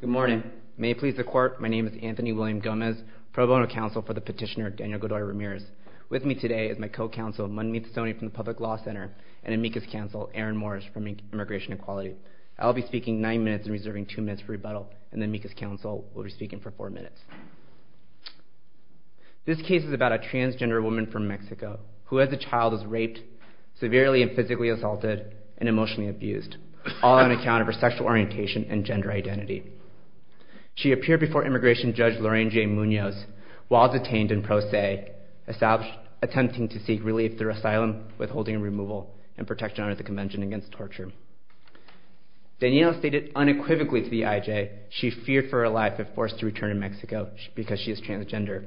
Good morning. May it please the court, my name is Anthony William Gomez, pro bono counsel for the petitioner Daniel Godoy-Ramirez. With me today is my co-counsel, Manmeet Soni from the Public Law Center, and amicus counsel, Aaron Morris from Immigration Equality. I will be speaking nine minutes and reserving two minutes for rebuttal, and the amicus counsel will be speaking for four minutes. This case is about a transgender woman from Mexico who, as a child, was raped, severely and physically assaulted, and emotionally abused, all on account of her sexual orientation and gender identity. She appeared before Immigration Judge Lorraine J. Munoz while detained in Pro Se, attempting to seek relief through asylum, withholding and removal, and protection under the Convention Against Torture. Daniel stated unequivocally to the IJ she feared for her life if forced to return to Mexico because she is transgender,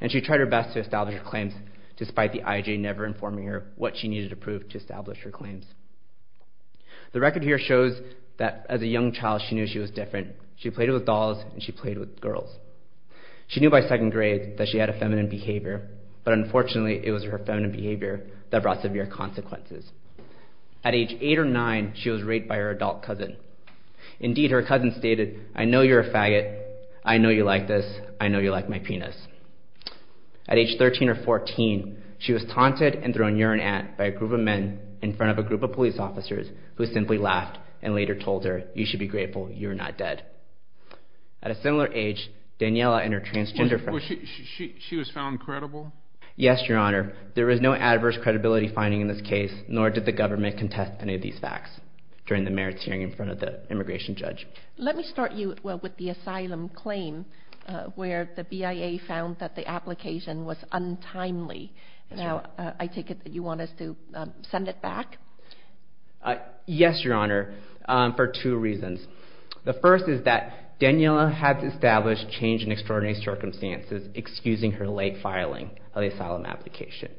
and she tried her best to establish her claims, despite the IJ never informing her what she needed to prove to establish her claims. The record here shows that as a young child she knew she was different. She played with dolls and she played with girls. She knew by second grade that she had a feminine behavior, but unfortunately it was her feminine behavior that brought severe consequences. At age eight or nine, she was raped by her adult cousin. Indeed, her cousin stated, I know you're a faggot, I know you like this, I know you like my penis. At age 13 or 14, she was taunted and thrown urine at by a group of men in front of a group of police officers who simply laughed and later told her, you should be grateful you're not dead. At a similar age, Daniela and her transgender friend... She was found credible? Yes, Your Honor. There is no adverse credibility finding in this case, nor did the government contest any of these facts during the merits hearing in front of the immigration judge. Let me start you with the asylum claim where the BIA found that the application was untimely. Now, I take it that you want us to send it back? Yes, Your Honor, for two reasons. The first is that Daniela had established change in extraordinary circumstances, excusing her late filing of the asylum application.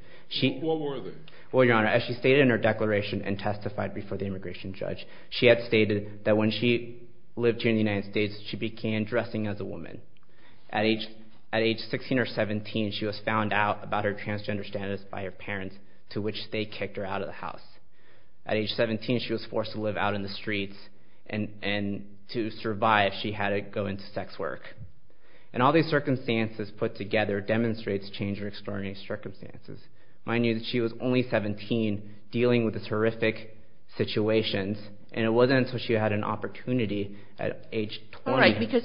What were they? Well, Your Honor, as she stated in her declaration and testified before the immigration judge, she had stated that when she lived here in the United States, she began dressing as a woman. At age 16 or 17, she was found out about her transgender status by her parents, to which they kicked her out of the house. At age 17, she was forced to live out in the streets, and to survive, she had to go into sex work. And all these circumstances put together demonstrates change in extraordinary circumstances. Mind you that she was only 17, dealing with these horrific situations, and it wasn't until she had an opportunity at age 20... All right, because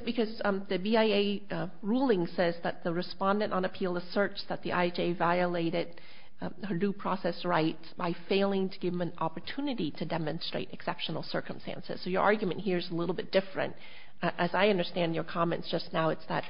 the BIA ruling says that the respondent on appeal asserts that the IJ violated her due process rights by failing to give them an opportunity to demonstrate exceptional circumstances. So your argument here is a little bit different. As I understand your comments just now, it's that,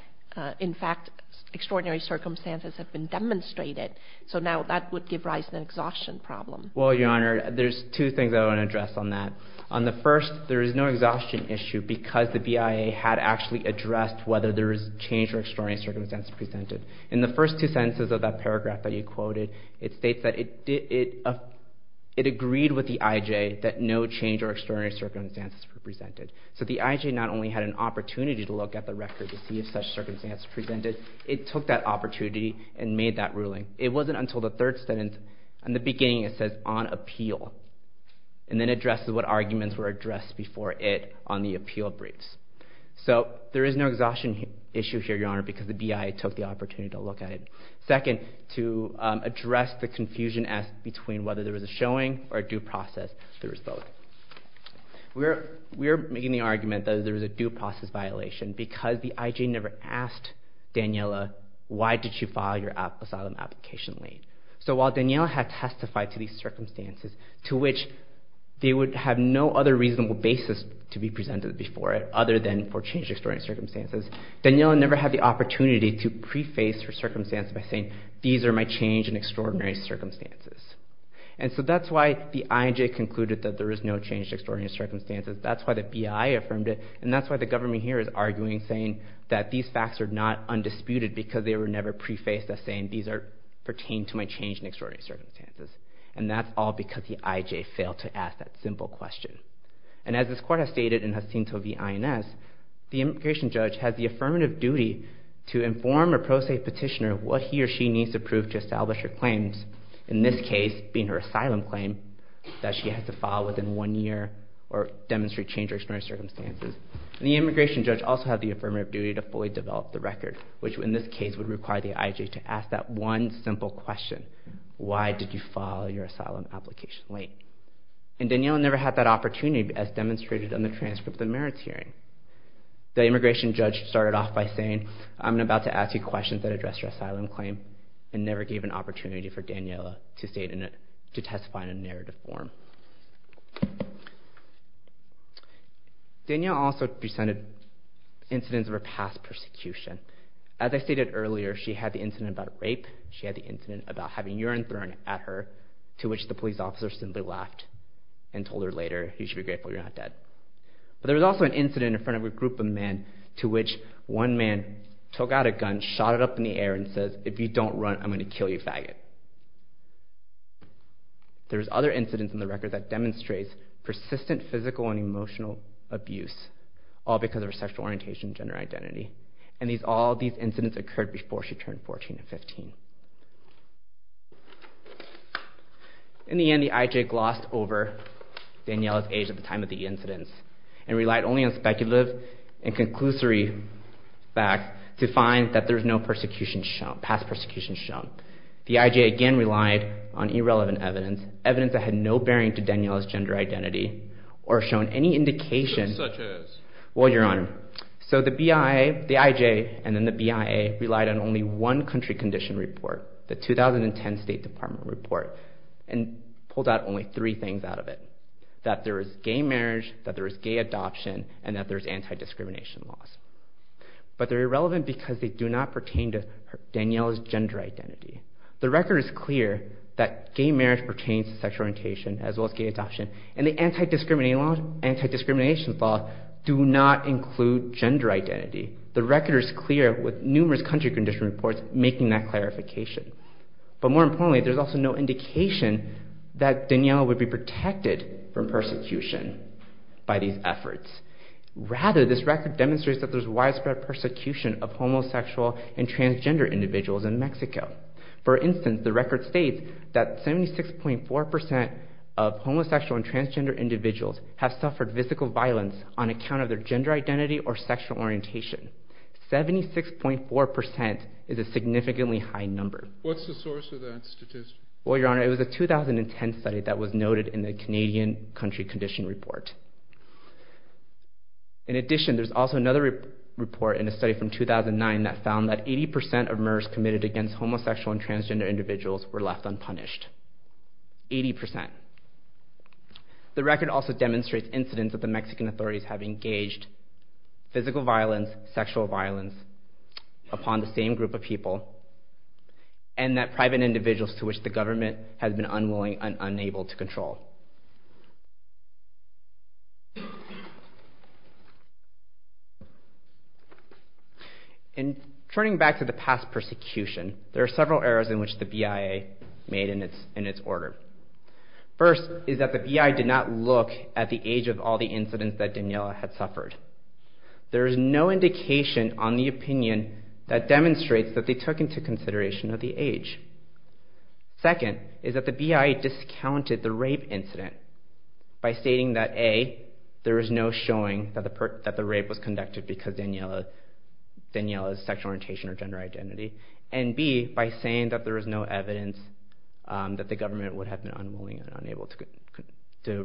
in fact, extraordinary circumstances have been demonstrated. So now that would give rise to an exhaustion problem. Well, Your Honor, there's two things I want to address on that. On the first, there is no exhaustion issue because the BIA had actually addressed whether there was change or extraordinary circumstances presented. In the first two sentences of that paragraph that you quoted, it states that it agreed with the IJ that no change or extraordinary circumstances were presented. So the IJ not only had an opportunity to look at the record to see if such circumstances were presented, it took that opportunity and made that ruling. It wasn't until the third sentence, in the beginning it says, on appeal, and then addresses what arguments were addressed before it on the appeal briefs. So there is no exhaustion issue here, Your Honor, because the BIA took the opportunity to look at it. Second, to address the confusion between whether there was a showing or a due process, there was both. We're making the argument that there was a due process violation because the IJ never asked Daniela, why did you file your asylum application late? So while Daniela had testified to these circumstances, to which they would have no other reasonable basis to be presented before it, other than for changed or extraordinary circumstances, Daniela never had the opportunity to preface her circumstances by saying, these are my changed and extraordinary circumstances. And so that's why the IJ concluded that there is no changed or extraordinary circumstances. That's why the BIA affirmed it. And that's why the government here is arguing, saying that these facts are not undisputed because they were never prefaced as saying these pertain to my changed and extraordinary circumstances. And that's all because the IJ failed to ask that simple question. And as this court has stated in Jacinto v. INS, the immigration judge has the affirmative duty to inform a pro se petitioner what he or she needs to prove to establish her claims, in this case being her asylum claim that she has to file within one year or demonstrate changed or extraordinary circumstances. And the immigration judge also has the affirmative duty to fully develop the record, which in this case would require the IJ to ask that one simple question, why did you file your asylum application late? And Daniela never had that opportunity as demonstrated in the transcript of the merits hearing. The immigration judge started off by saying, I'm about to ask you questions that address your asylum claim and never gave an opportunity for Daniela to testify in a narrative form. Daniela also presented incidents of her past persecution. As I stated earlier, she had the incident about rape, she had the incident about having urine thrown at her, to which the police officer simply laughed and told her later, you should be grateful you're not dead. But there was also an incident in front of a group of men to which one man took out a gun, shot it up in the air and said, if you don't run, I'm going to kill you, faggot. There was other incidents in the record that demonstrates persistent physical and emotional abuse, all because of her sexual orientation and gender identity. And all these incidents occurred before she turned 14 or 15. In the end, the IJ glossed over Daniela's age at the time of the incidents and relied only on speculative and conclusory facts to find that there was no past persecution shown. The IJ again relied on irrelevant evidence, evidence that had no bearing to Daniela's gender identity or shown any indication... Such as? Well, Your Honor, so the IJ and then the BIA relied on only one country condition report, the 2010 State Department report, and pulled out only three things out of it. That there was gay marriage, that there was gay adoption, and that there was anti-discrimination laws. But they're irrelevant because they do not pertain to Daniela's gender identity. The record is clear that gay marriage pertains to sexual orientation as well as gay adoption, and the anti-discrimination laws do not include gender identity. The record is clear with numerous country condition reports making that clarification. But more importantly, there's also no indication that Daniela would be protected from persecution by these efforts. Rather, this record demonstrates that there's widespread persecution of homosexual and transgender individuals in Mexico. For instance, the record states that 76.4% of homosexual and transgender individuals have suffered physical violence on account of their gender identity or sexual orientation. 76.4% is a significantly high number. What's the source of that statistic? Well, Your Honor, it was a 2010 study that was noted in the Canadian country condition report. In addition, there's also another report in a study from 2009 that found that 80% of murders committed against homosexual and transgender individuals were left unpunished. Eighty percent. The record also demonstrates incidents that the Mexican authorities have engaged physical violence, sexual violence, upon the same group of people, and that private individuals to which the government has been unwilling and unable to control. And turning back to the past persecution, there are several errors in which the BIA made in its order. First is that the BIA did not look at the age of all the incidents that Daniela had suffered. There is no indication on the opinion that demonstrates that they took into consideration the age. Second is that the BIA discounted the rape incident by stating that A, there is no showing that the rape was conducted because of Daniela's sexual orientation or gender identity, and B, by saying that there is no evidence that the government would have been unwilling and unable to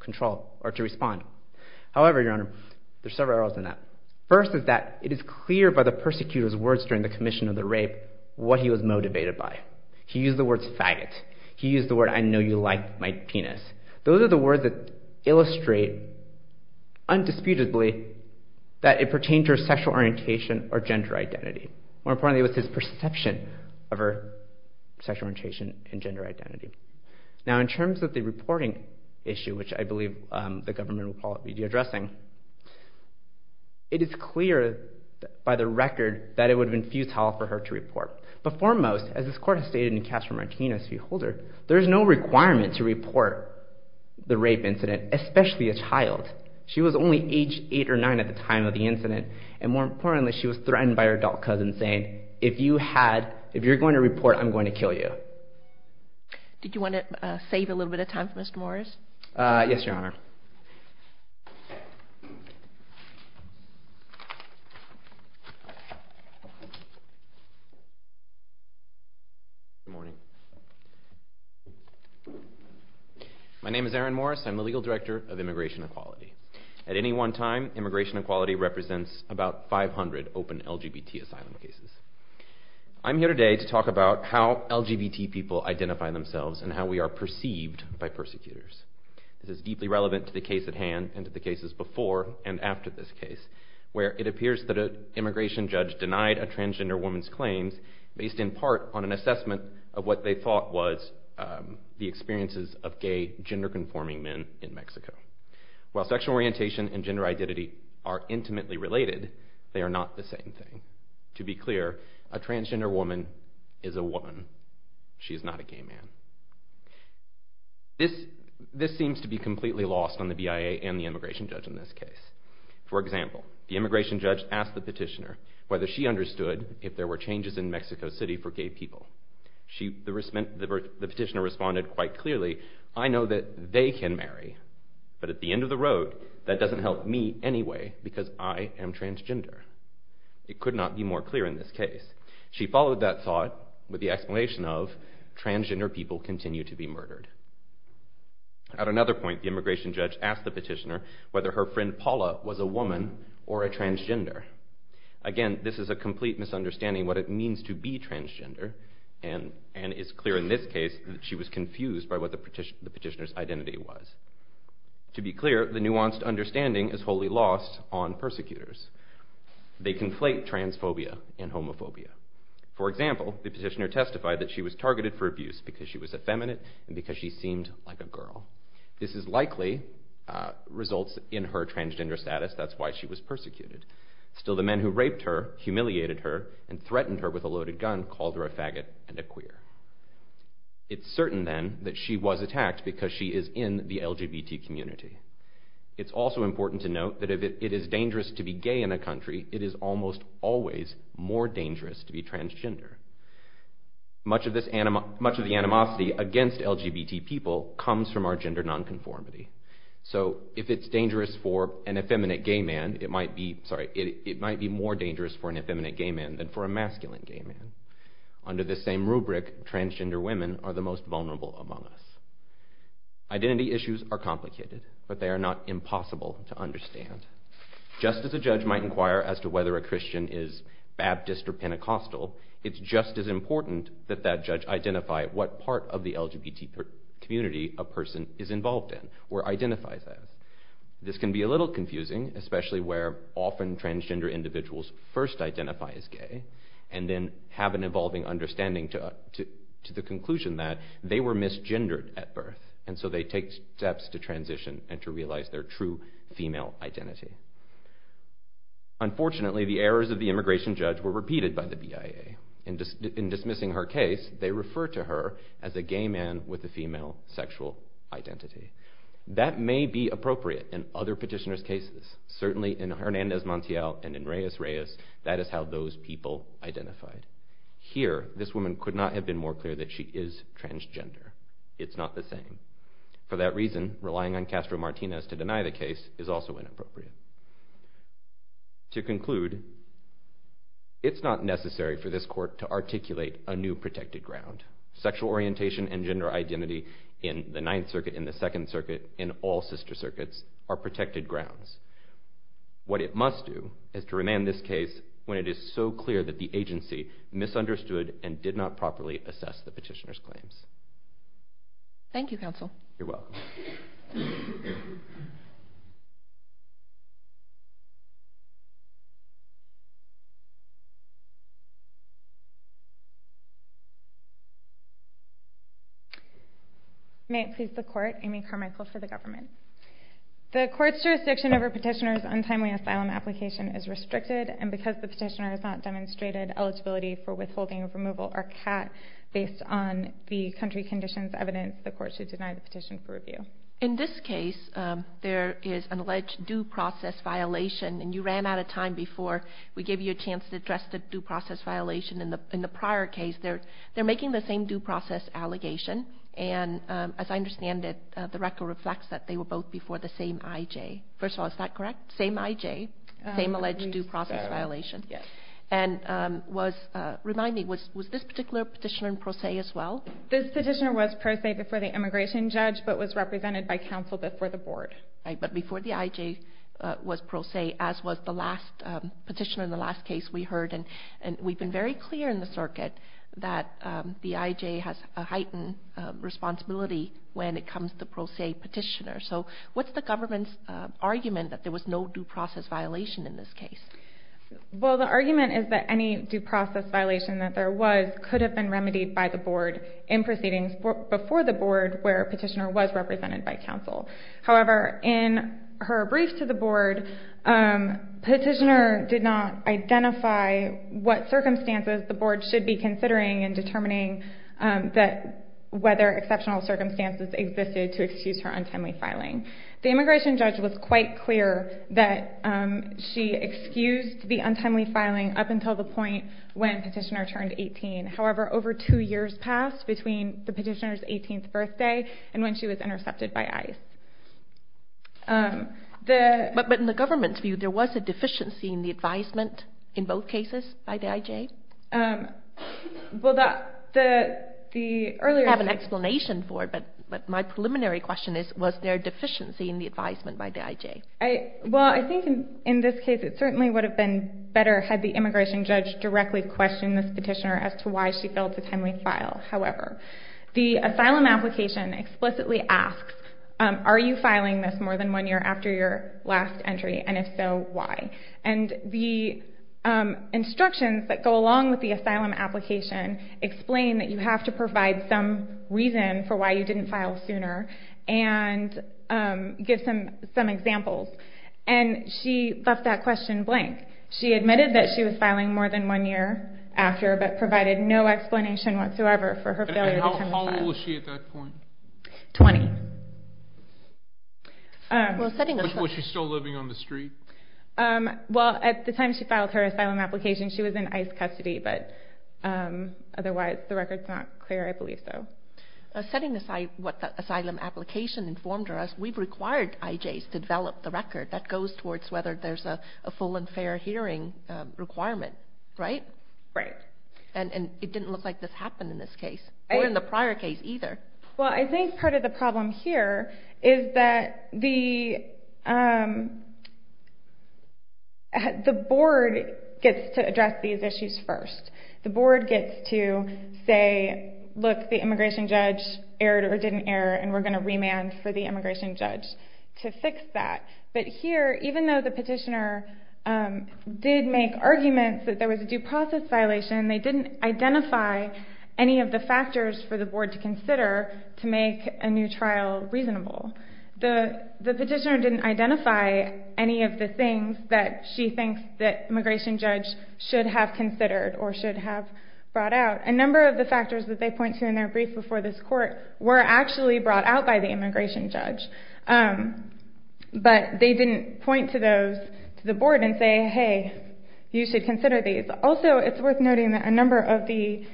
control or to respond. However, Your Honor, there are several errors in that. First is that it is clear by the persecutor's words during the commission of the rape what he was motivated by. He used the words, faggot. He used the words, I know you like my penis. Those are the words that illustrate, undisputedly, that it pertained to her sexual orientation or gender identity. More importantly, it was his perception of her sexual orientation and gender identity. Now, in terms of the reporting issue, which I believe the government will call it media addressing, it is clear by the record that it would have been futile for her to report. But foremost, as this Court has stated in Castro-Martinez v. Holder, there is no requirement to report the rape incident, especially a child. And more importantly, she was threatened by her adult cousin saying, if you're going to report, I'm going to kill you. Did you want to save a little bit of time for Mr. Morris? Yes, Your Honor. My name is Aaron Morris. I'm the Legal Director of Immigration Equality. At any one time, Immigration Equality represents about 500 open LGBT asylum cases. I'm here today to talk about how LGBT people identify themselves and how we are perceived by persecutors. This is deeply relevant to the case at hand and to the cases before and after this case, where it appears that an immigration judge denied a transgender woman's claims based in part on an assessment of what they thought was the experiences of gay, gender-conforming men in Mexico. While sexual orientation and gender identity are intimately related, they are not the same thing. To be clear, a transgender woman is a woman. She is not a gay man. This seems to be completely lost on the BIA and the immigration judge in this case. For example, the immigration judge asked the petitioner whether she understood if there were changes in Mexico City for gay people. The petitioner responded quite clearly, I know that they can marry, but at the end of the road, that doesn't help me anyway because I am transgender. It could not be more clear in this case. She followed that thought with the explanation of transgender people continue to be murdered. At another point, the immigration judge asked the petitioner whether her friend Paula was a woman or a transgender. Again, this is a complete misunderstanding of what it means to be transgender and it is clear in this case that she was confused by what the petitioner's identity was. To be clear, the nuanced understanding is wholly lost on persecutors. They conflate transphobia and homophobia. For example, the petitioner testified that she was targeted for abuse because she was effeminate and because she seemed like a girl. This is likely results in her transgender status, that's why she was persecuted. Still, the men who raped her, humiliated her, and threatened her with a loaded gun called her a faggot and a queer. It's certain then that she was attacked because she is in the LGBT community. It's also important to note that if it is dangerous to be gay in a country, it is almost always more dangerous to be transgender. Much of the animosity against LGBT people comes from our gender nonconformity. So if it's dangerous for an effeminate gay man, it might be more dangerous for an effeminate gay man than for a masculine gay man. Under this same rubric, transgender women are the most vulnerable among us. Identity issues are complicated, but they are not impossible to understand. Just as a judge might inquire as to whether a Christian is Baptist or Pentecostal, it's just as important that that judge identify what part of the LGBT community a person is involved in or identifies as. This can be a little confusing, especially where often transgender individuals first identify as gay and then have an evolving understanding to the conclusion that they were misgendered at birth, and so they take steps to transition and to realize their true female identity. Unfortunately, the errors of the immigration judge were repeated by the BIA. In dismissing her case, they referred to her as a gay man with a female sexual identity. That may be appropriate in other petitioners' cases. Certainly in Hernandez-Montiel and in Reyes-Reyes, that is how those people identified. Here, this woman could not have been more clear that she is transgender. It's not the same. For that reason, relying on Castro-Martinez to deny the case is also inappropriate. To conclude, it's not necessary for this court to articulate a new protected ground. Sexual orientation and gender identity in the Ninth Circuit, in the Second Circuit, in all sister circuits are protected grounds. What it must do is to remand this case when it is so clear that the agency misunderstood and did not properly assess the petitioner's claims. Thank you, Counsel. You're welcome. May it please the Court, Amy Carmichael for the Government. The Court's jurisdiction over a petitioner's untimely asylum application is restricted, and because the petitioner has not demonstrated eligibility for withholding, removal, or CAT based on the country conditions evidenced, the Court should deny the petition for review. In this case, there is an alleged due process violation, and you ran out of time before we gave you a chance to address the due process violation. In the prior case, they're making the same due process allegation, and as I understand it, the record reflects that they were both before the same IJ. First of all, is that correct? Same IJ? Same alleged due process violation? And remind me, was this particular petitioner in pro se as well? This petitioner was pro se before the immigration judge, but was represented by counsel before the board. But before the IJ was pro se, as was the last petitioner in the last case we heard, and we've been very clear in the circuit that the IJ has a heightened responsibility when it comes to pro se petitioners. So what's the Government's argument that there was no due process violation in this case? Well, the argument is that any due process violation that there was could have been remedied by the board in proceedings before the board where a petitioner was represented by counsel. However, in her brief to the board, petitioner did not identify what circumstances the board should be considering in determining whether exceptional circumstances existed to excuse her untimely filing. The immigration judge was quite clear that she excused the untimely filing up until the point when petitioner turned 18. However, over two years passed between the petitioner's 18th birthday and when she was intercepted by ICE. But in the Government's view, there was a deficiency in the advisement in both cases by the IJ? Well, the earlier... I have an explanation for it, but my preliminary question is, was there a deficiency in the advisement by the IJ? Well, I think in this case it certainly would have been better had the immigration judge directly questioned this petitioner as to why she failed to timely file. However, the asylum application explicitly asks, are you filing this more than one year after your last entry, and if so, why? And the instructions that go along with the asylum application explain that you have to provide some reason for why you didn't file sooner and give some examples. And she left that question blank. She admitted that she was filing more than one year after but provided no explanation whatsoever for her failure to timely file. And how old was she at that point? 20. Was she still living on the street? Well, at the time she filed her asylum application, she was in ICE custody, but otherwise the record's not clear, I believe so. Setting aside what the asylum application informed us, we've required IJs to develop the record that goes towards whether there's a full and fair hearing requirement, right? And it didn't look like this happened in this case, or in the prior case either. Well, I think part of the problem here is that the board gets to address these issues first. The board gets to say, look, the immigration judge erred or didn't err, and we're going to remand for the immigration judge to fix that. But here, even though the petitioner did make arguments that there was a due process violation, they didn't identify any of the factors for the board to consider to make a new trial reasonable. The petitioner didn't identify any of the things that she thinks that immigration judge should have considered or should have brought out. A number of the factors that they point to in their brief before this court were actually brought out by the immigration judge. But they didn't point to those to the board and say, hey, you should consider these. Also, it's worth noting that a number of the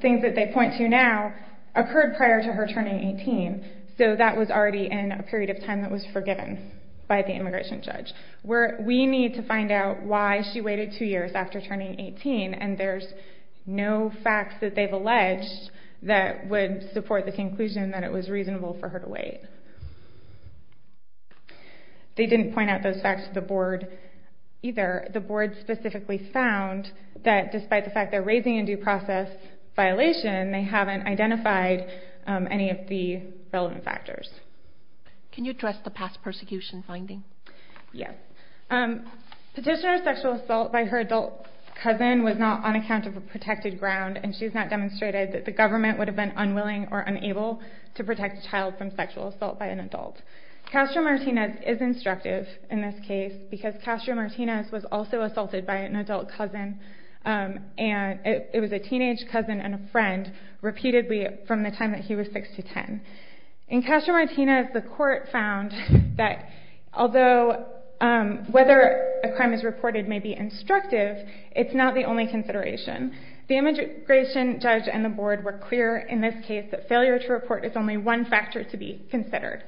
things that they point to now occurred prior to her turning 18, so that was already in a period of time that was forgiven by the immigration judge. We need to find out why she waited two years after turning 18, and there's no facts that they've alleged that would support the conclusion that it was reasonable for her to wait. They didn't point out those facts to the board either. The board specifically found that despite the fact they're raising a due process violation, they haven't identified any of the relevant factors. Can you address the past persecution finding? Yes. Petitioner's sexual assault by her adult cousin was not on account of a protected ground, and she's not demonstrated that the government would have been unwilling or unable to protect a child from sexual assault by an adult. Castro-Martinez is instructive in this case because Castro-Martinez was also assaulted by an adult cousin. It was a teenage cousin and a friend repeatedly from the time that he was 6 to 10. In Castro-Martinez, the court found that although whether a crime is reported may be instructive, it's not the only consideration. The immigration judge and the board were clear in this case that failure to report is only one factor to be considered.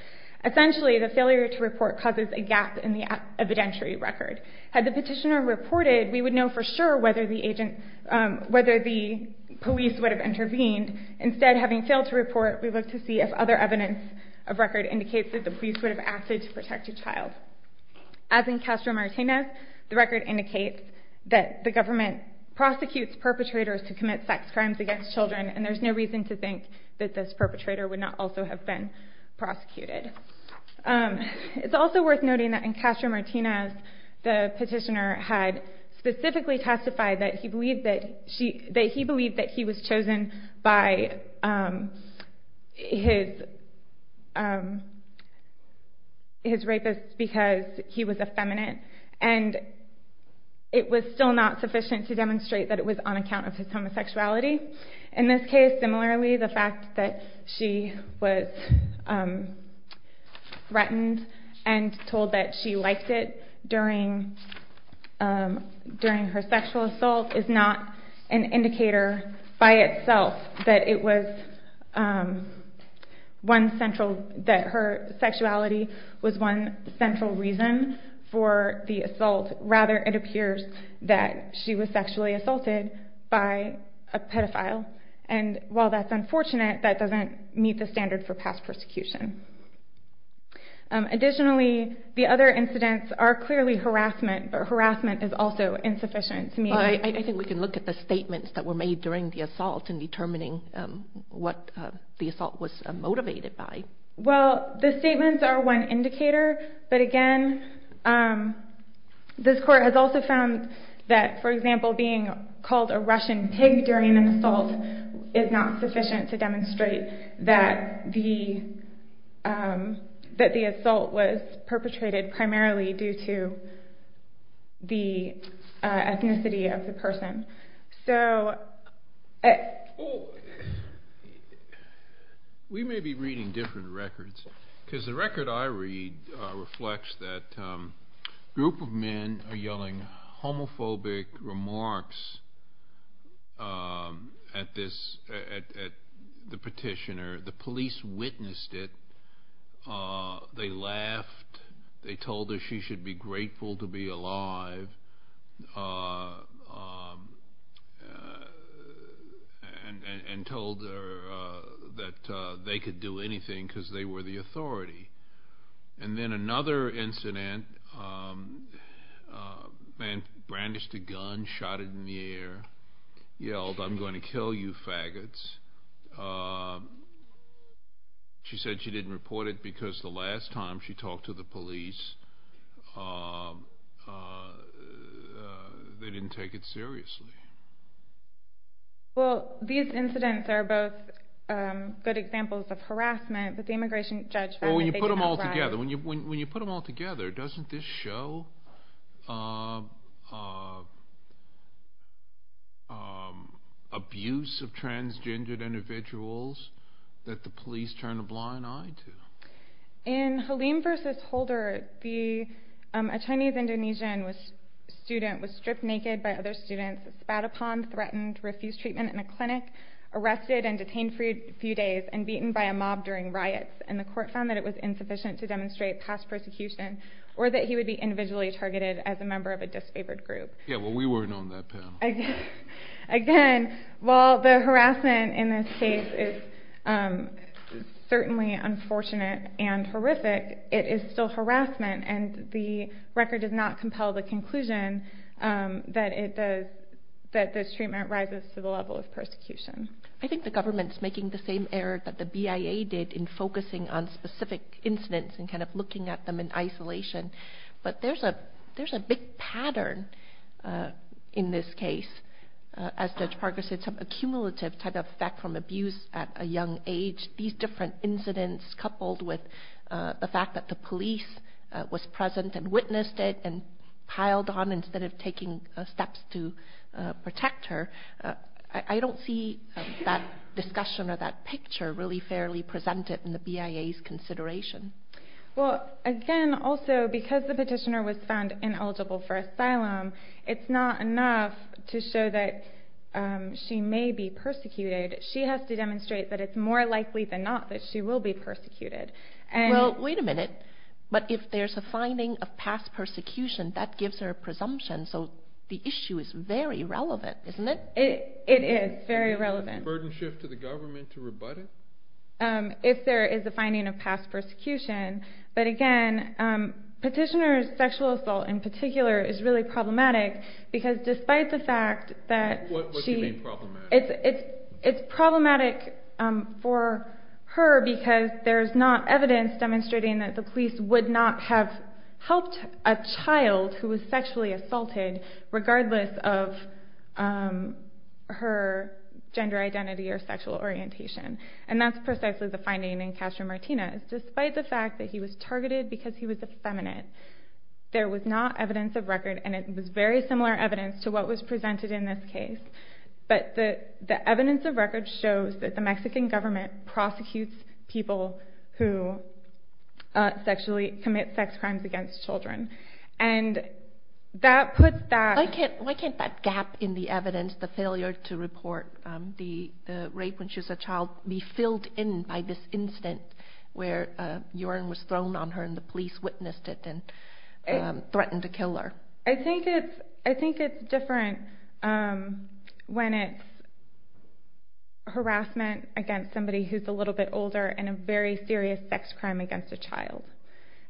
Essentially, the failure to report causes a gap in the evidentiary record. Had the petitioner reported, we would know for sure whether the police would have intervened. Instead, having failed to report, we looked to see if other evidence of record As in Castro-Martinez, the record indicates that the government prosecutes perpetrators to commit sex crimes against children, and there's no reason to think that this perpetrator would not also have been prosecuted. It's also worth noting that in Castro-Martinez, the petitioner had specifically testified that he believed that he was chosen by his rapists because he was effeminate, and it was still not sufficient to demonstrate that it was on account of his homosexuality. In this case, similarly, the fact that she was threatened and told that she liked it during her sexual assault is not an indicator by itself that her sexuality was one central reason for the assault. Rather, it appears that she was sexually assaulted by a pedophile, and while that's unfortunate, that doesn't meet the standard for past persecution. Additionally, the other incidents are clearly harassment, but harassment is also insufficient. I think we can look at the statements that were made during the assault in determining what the assault was motivated by. Well, the statements are one indicator, but again, this court has also found that, for example, being called a Russian pig during an assault is not sufficient to demonstrate that the assault was perpetrated primarily due to the ethnicity of the person. We may be reading different records, because the record I read reflects that a group of men are yelling homophobic remarks at the petitioner. The police witnessed it. They laughed. They told her she should be grateful to be alive and told her that they could do anything because they were the authority. And then another incident, a man brandished a gun, shot it in the air, yelled, I'm going to kill you faggots. She said she didn't report it because the last time she talked to the police, they didn't take it seriously. Well, these incidents are both good examples of harassment, but the immigration judge found that they could help her out. When you put them all together, doesn't this show abuse of transgendered individuals that the police turn a blind eye to? In Halim versus Holder, a Chinese-Indonesian student was stripped naked by other students, spat upon, threatened, refused treatment in a clinic, arrested and detained for a few days, and beaten by a mob during riots. And the court found that it was insufficient to demonstrate past persecution or that he would be individually targeted as a member of a disfavored group. Yeah, well, we weren't on that panel. Again, while the harassment in this case is certainly unfortunate and horrific, it is still harassment, and the record does not compel the conclusion that this treatment rises to the level of persecution. I think the government's making the same error that the BIA did in focusing on specific incidents and kind of looking at them in isolation. But there's a big pattern in this case. As Judge Parker said, some accumulative type of fact from abuse at a young age. These different incidents coupled with the fact that the police was present and witnessed it and piled on instead of taking steps to protect her. I don't see that discussion or that picture really fairly presented in the BIA's consideration. Well, again, also, because the petitioner was found ineligible for asylum, it's not enough to show that she may be persecuted. She has to demonstrate that it's more likely than not that she will be persecuted. Well, wait a minute. But if there's a finding of past persecution, that gives her a presumption. So the issue is very relevant, isn't it? It is very relevant. A burden shift to the government to rebut it? If there is a finding of past persecution. But again, petitioner's sexual assault in particular is really problematic because despite the fact that she... What do you mean problematic? It's problematic for her because there's not evidence demonstrating that the police would not have helped a child who was sexually assaulted regardless of her gender identity or sexual orientation. And that's precisely the finding in Castro-Martinez. Despite the fact that he was targeted because he was effeminate, there was not evidence of record, and it was very similar evidence to what was presented in this case. But the evidence of record shows that the Mexican government prosecutes people who sexually commit sex crimes against children. And that puts that... Why can't that gap in the evidence, the failure to report the rape when she was a child, be filled in by this incident where urine was thrown on her and the police witnessed it and threatened to kill her? I think it's different when it's harassment against somebody who's a little bit older and a very serious sex crime against a child.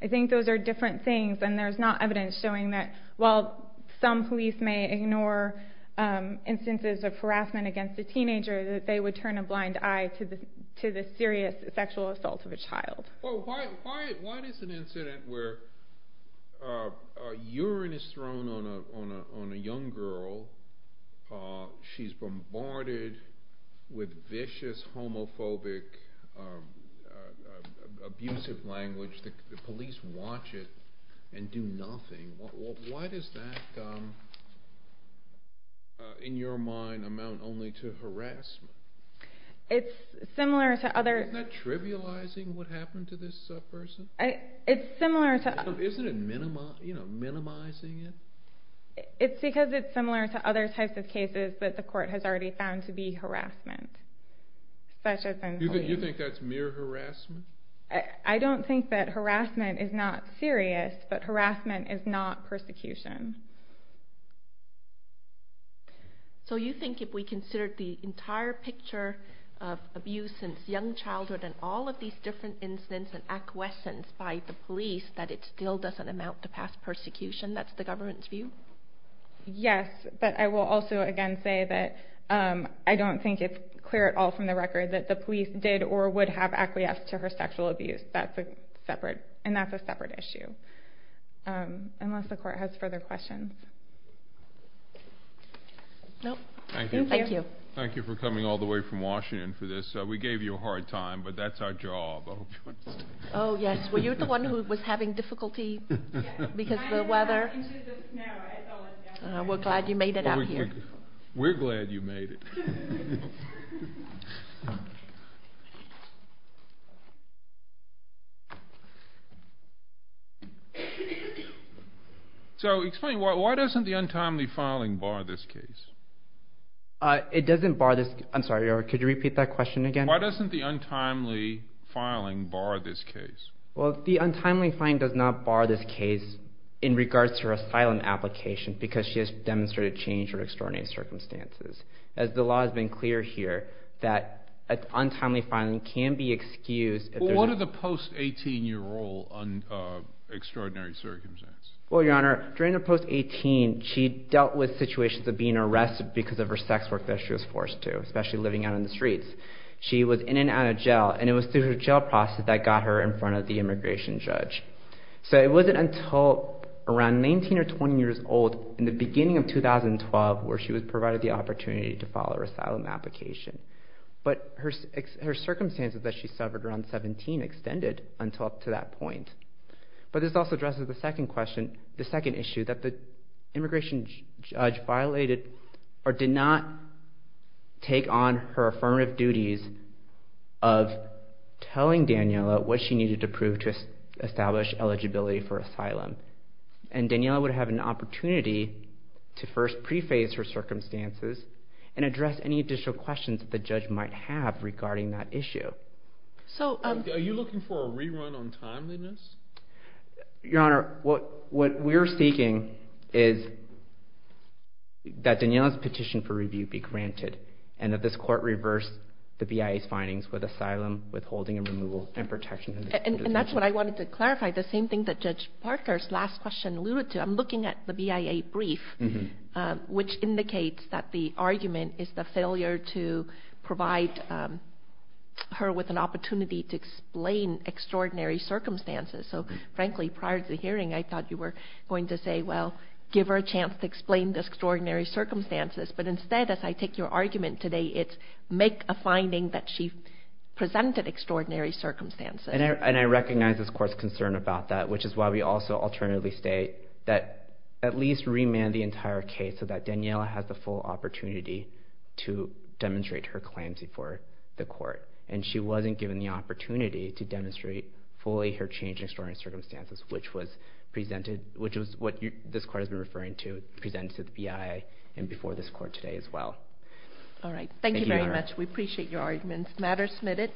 I think those are different things, and there's not evidence showing that while some police may ignore instances of harassment against a teenager, that they would turn a blind eye to the serious sexual assault of a child. Why does an incident where urine is thrown on a young girl, she's bombarded with vicious, homophobic, abusive language, the police watch it and do nothing, why does that, in your mind, amount only to harassment? It's similar to other... Isn't it minimizing it? It's because it's similar to other types of cases that the court has already found to be harassment. You think that's mere harassment? I don't think that harassment is not serious, but harassment is not persecution. So you think if we considered the entire picture of abuse since young childhood and all of these different incidents and acquiescence by the police, that it still doesn't amount to past persecution? That's the government's view? Yes, but I will also again say that I don't think it's clear at all from the record that the police did or would have acquiesced to her sexual abuse, and that's a separate issue, unless the court has further questions. Thank you for coming all the way from Washington for this. We gave you a hard time, but that's our job. Oh, yes, well, you're the one who was having difficulty because of the weather. We're glad you made it out here. We're glad you made it. So explain, why doesn't the untimely filing bar this case? It doesn't bar this case. I'm sorry, could you repeat that question again? Why doesn't the untimely filing bar this case? Well, the untimely filing does not bar this case in regards to her asylum application because she has demonstrated change or extraordinary circumstances. As the law has been clear here, that untimely filing can be excused. What are the post-18-year-old extraordinary circumstances? Well, Your Honor, during her post-18, she dealt with situations of being arrested because of her sex work that she was forced to, especially living out in the streets. She was in and out of jail, and it was through her jail process that got her in front of the immigration judge. So it wasn't until around 19 or 20 years old, in the beginning of 2012, where she was provided the opportunity to file her asylum application. But her circumstances that she suffered around 17 extended until up to that point. But this also addresses the second question, the second issue, that the immigration judge violated or did not take on her affirmative duties of telling Daniela what she needed to prove to establish eligibility for asylum. And Daniela would have an opportunity to first preface her circumstances and address any additional questions that the judge might have regarding that issue. Are you looking for a rerun on timeliness? Your Honor, what we're seeking is that Daniela's petition for review be granted and that this court reverse the BIA's findings with asylum, withholding and removal, and protection of the defendant. And that's what I wanted to clarify, the same thing that Judge Parker's last question alluded to. I'm looking at the BIA brief, which indicates that the argument is the failure to provide her with an opportunity to explain extraordinary circumstances. So, frankly, prior to the hearing, I thought you were going to say, well, give her a chance to explain the extraordinary circumstances. But instead, as I take your argument today, it's make a finding that she presented extraordinary circumstances. And I recognize this court's concern about that, which is why we also alternatively state that at least remand the entire case so that Daniela has the full opportunity to demonstrate her claims before the court. And she wasn't given the opportunity to demonstrate fully her changing extraordinary circumstances, which was what this court has been referring to presented to the BIA and before this court today as well. All right. Thank you very much. We appreciate your arguments. The matter is submitted.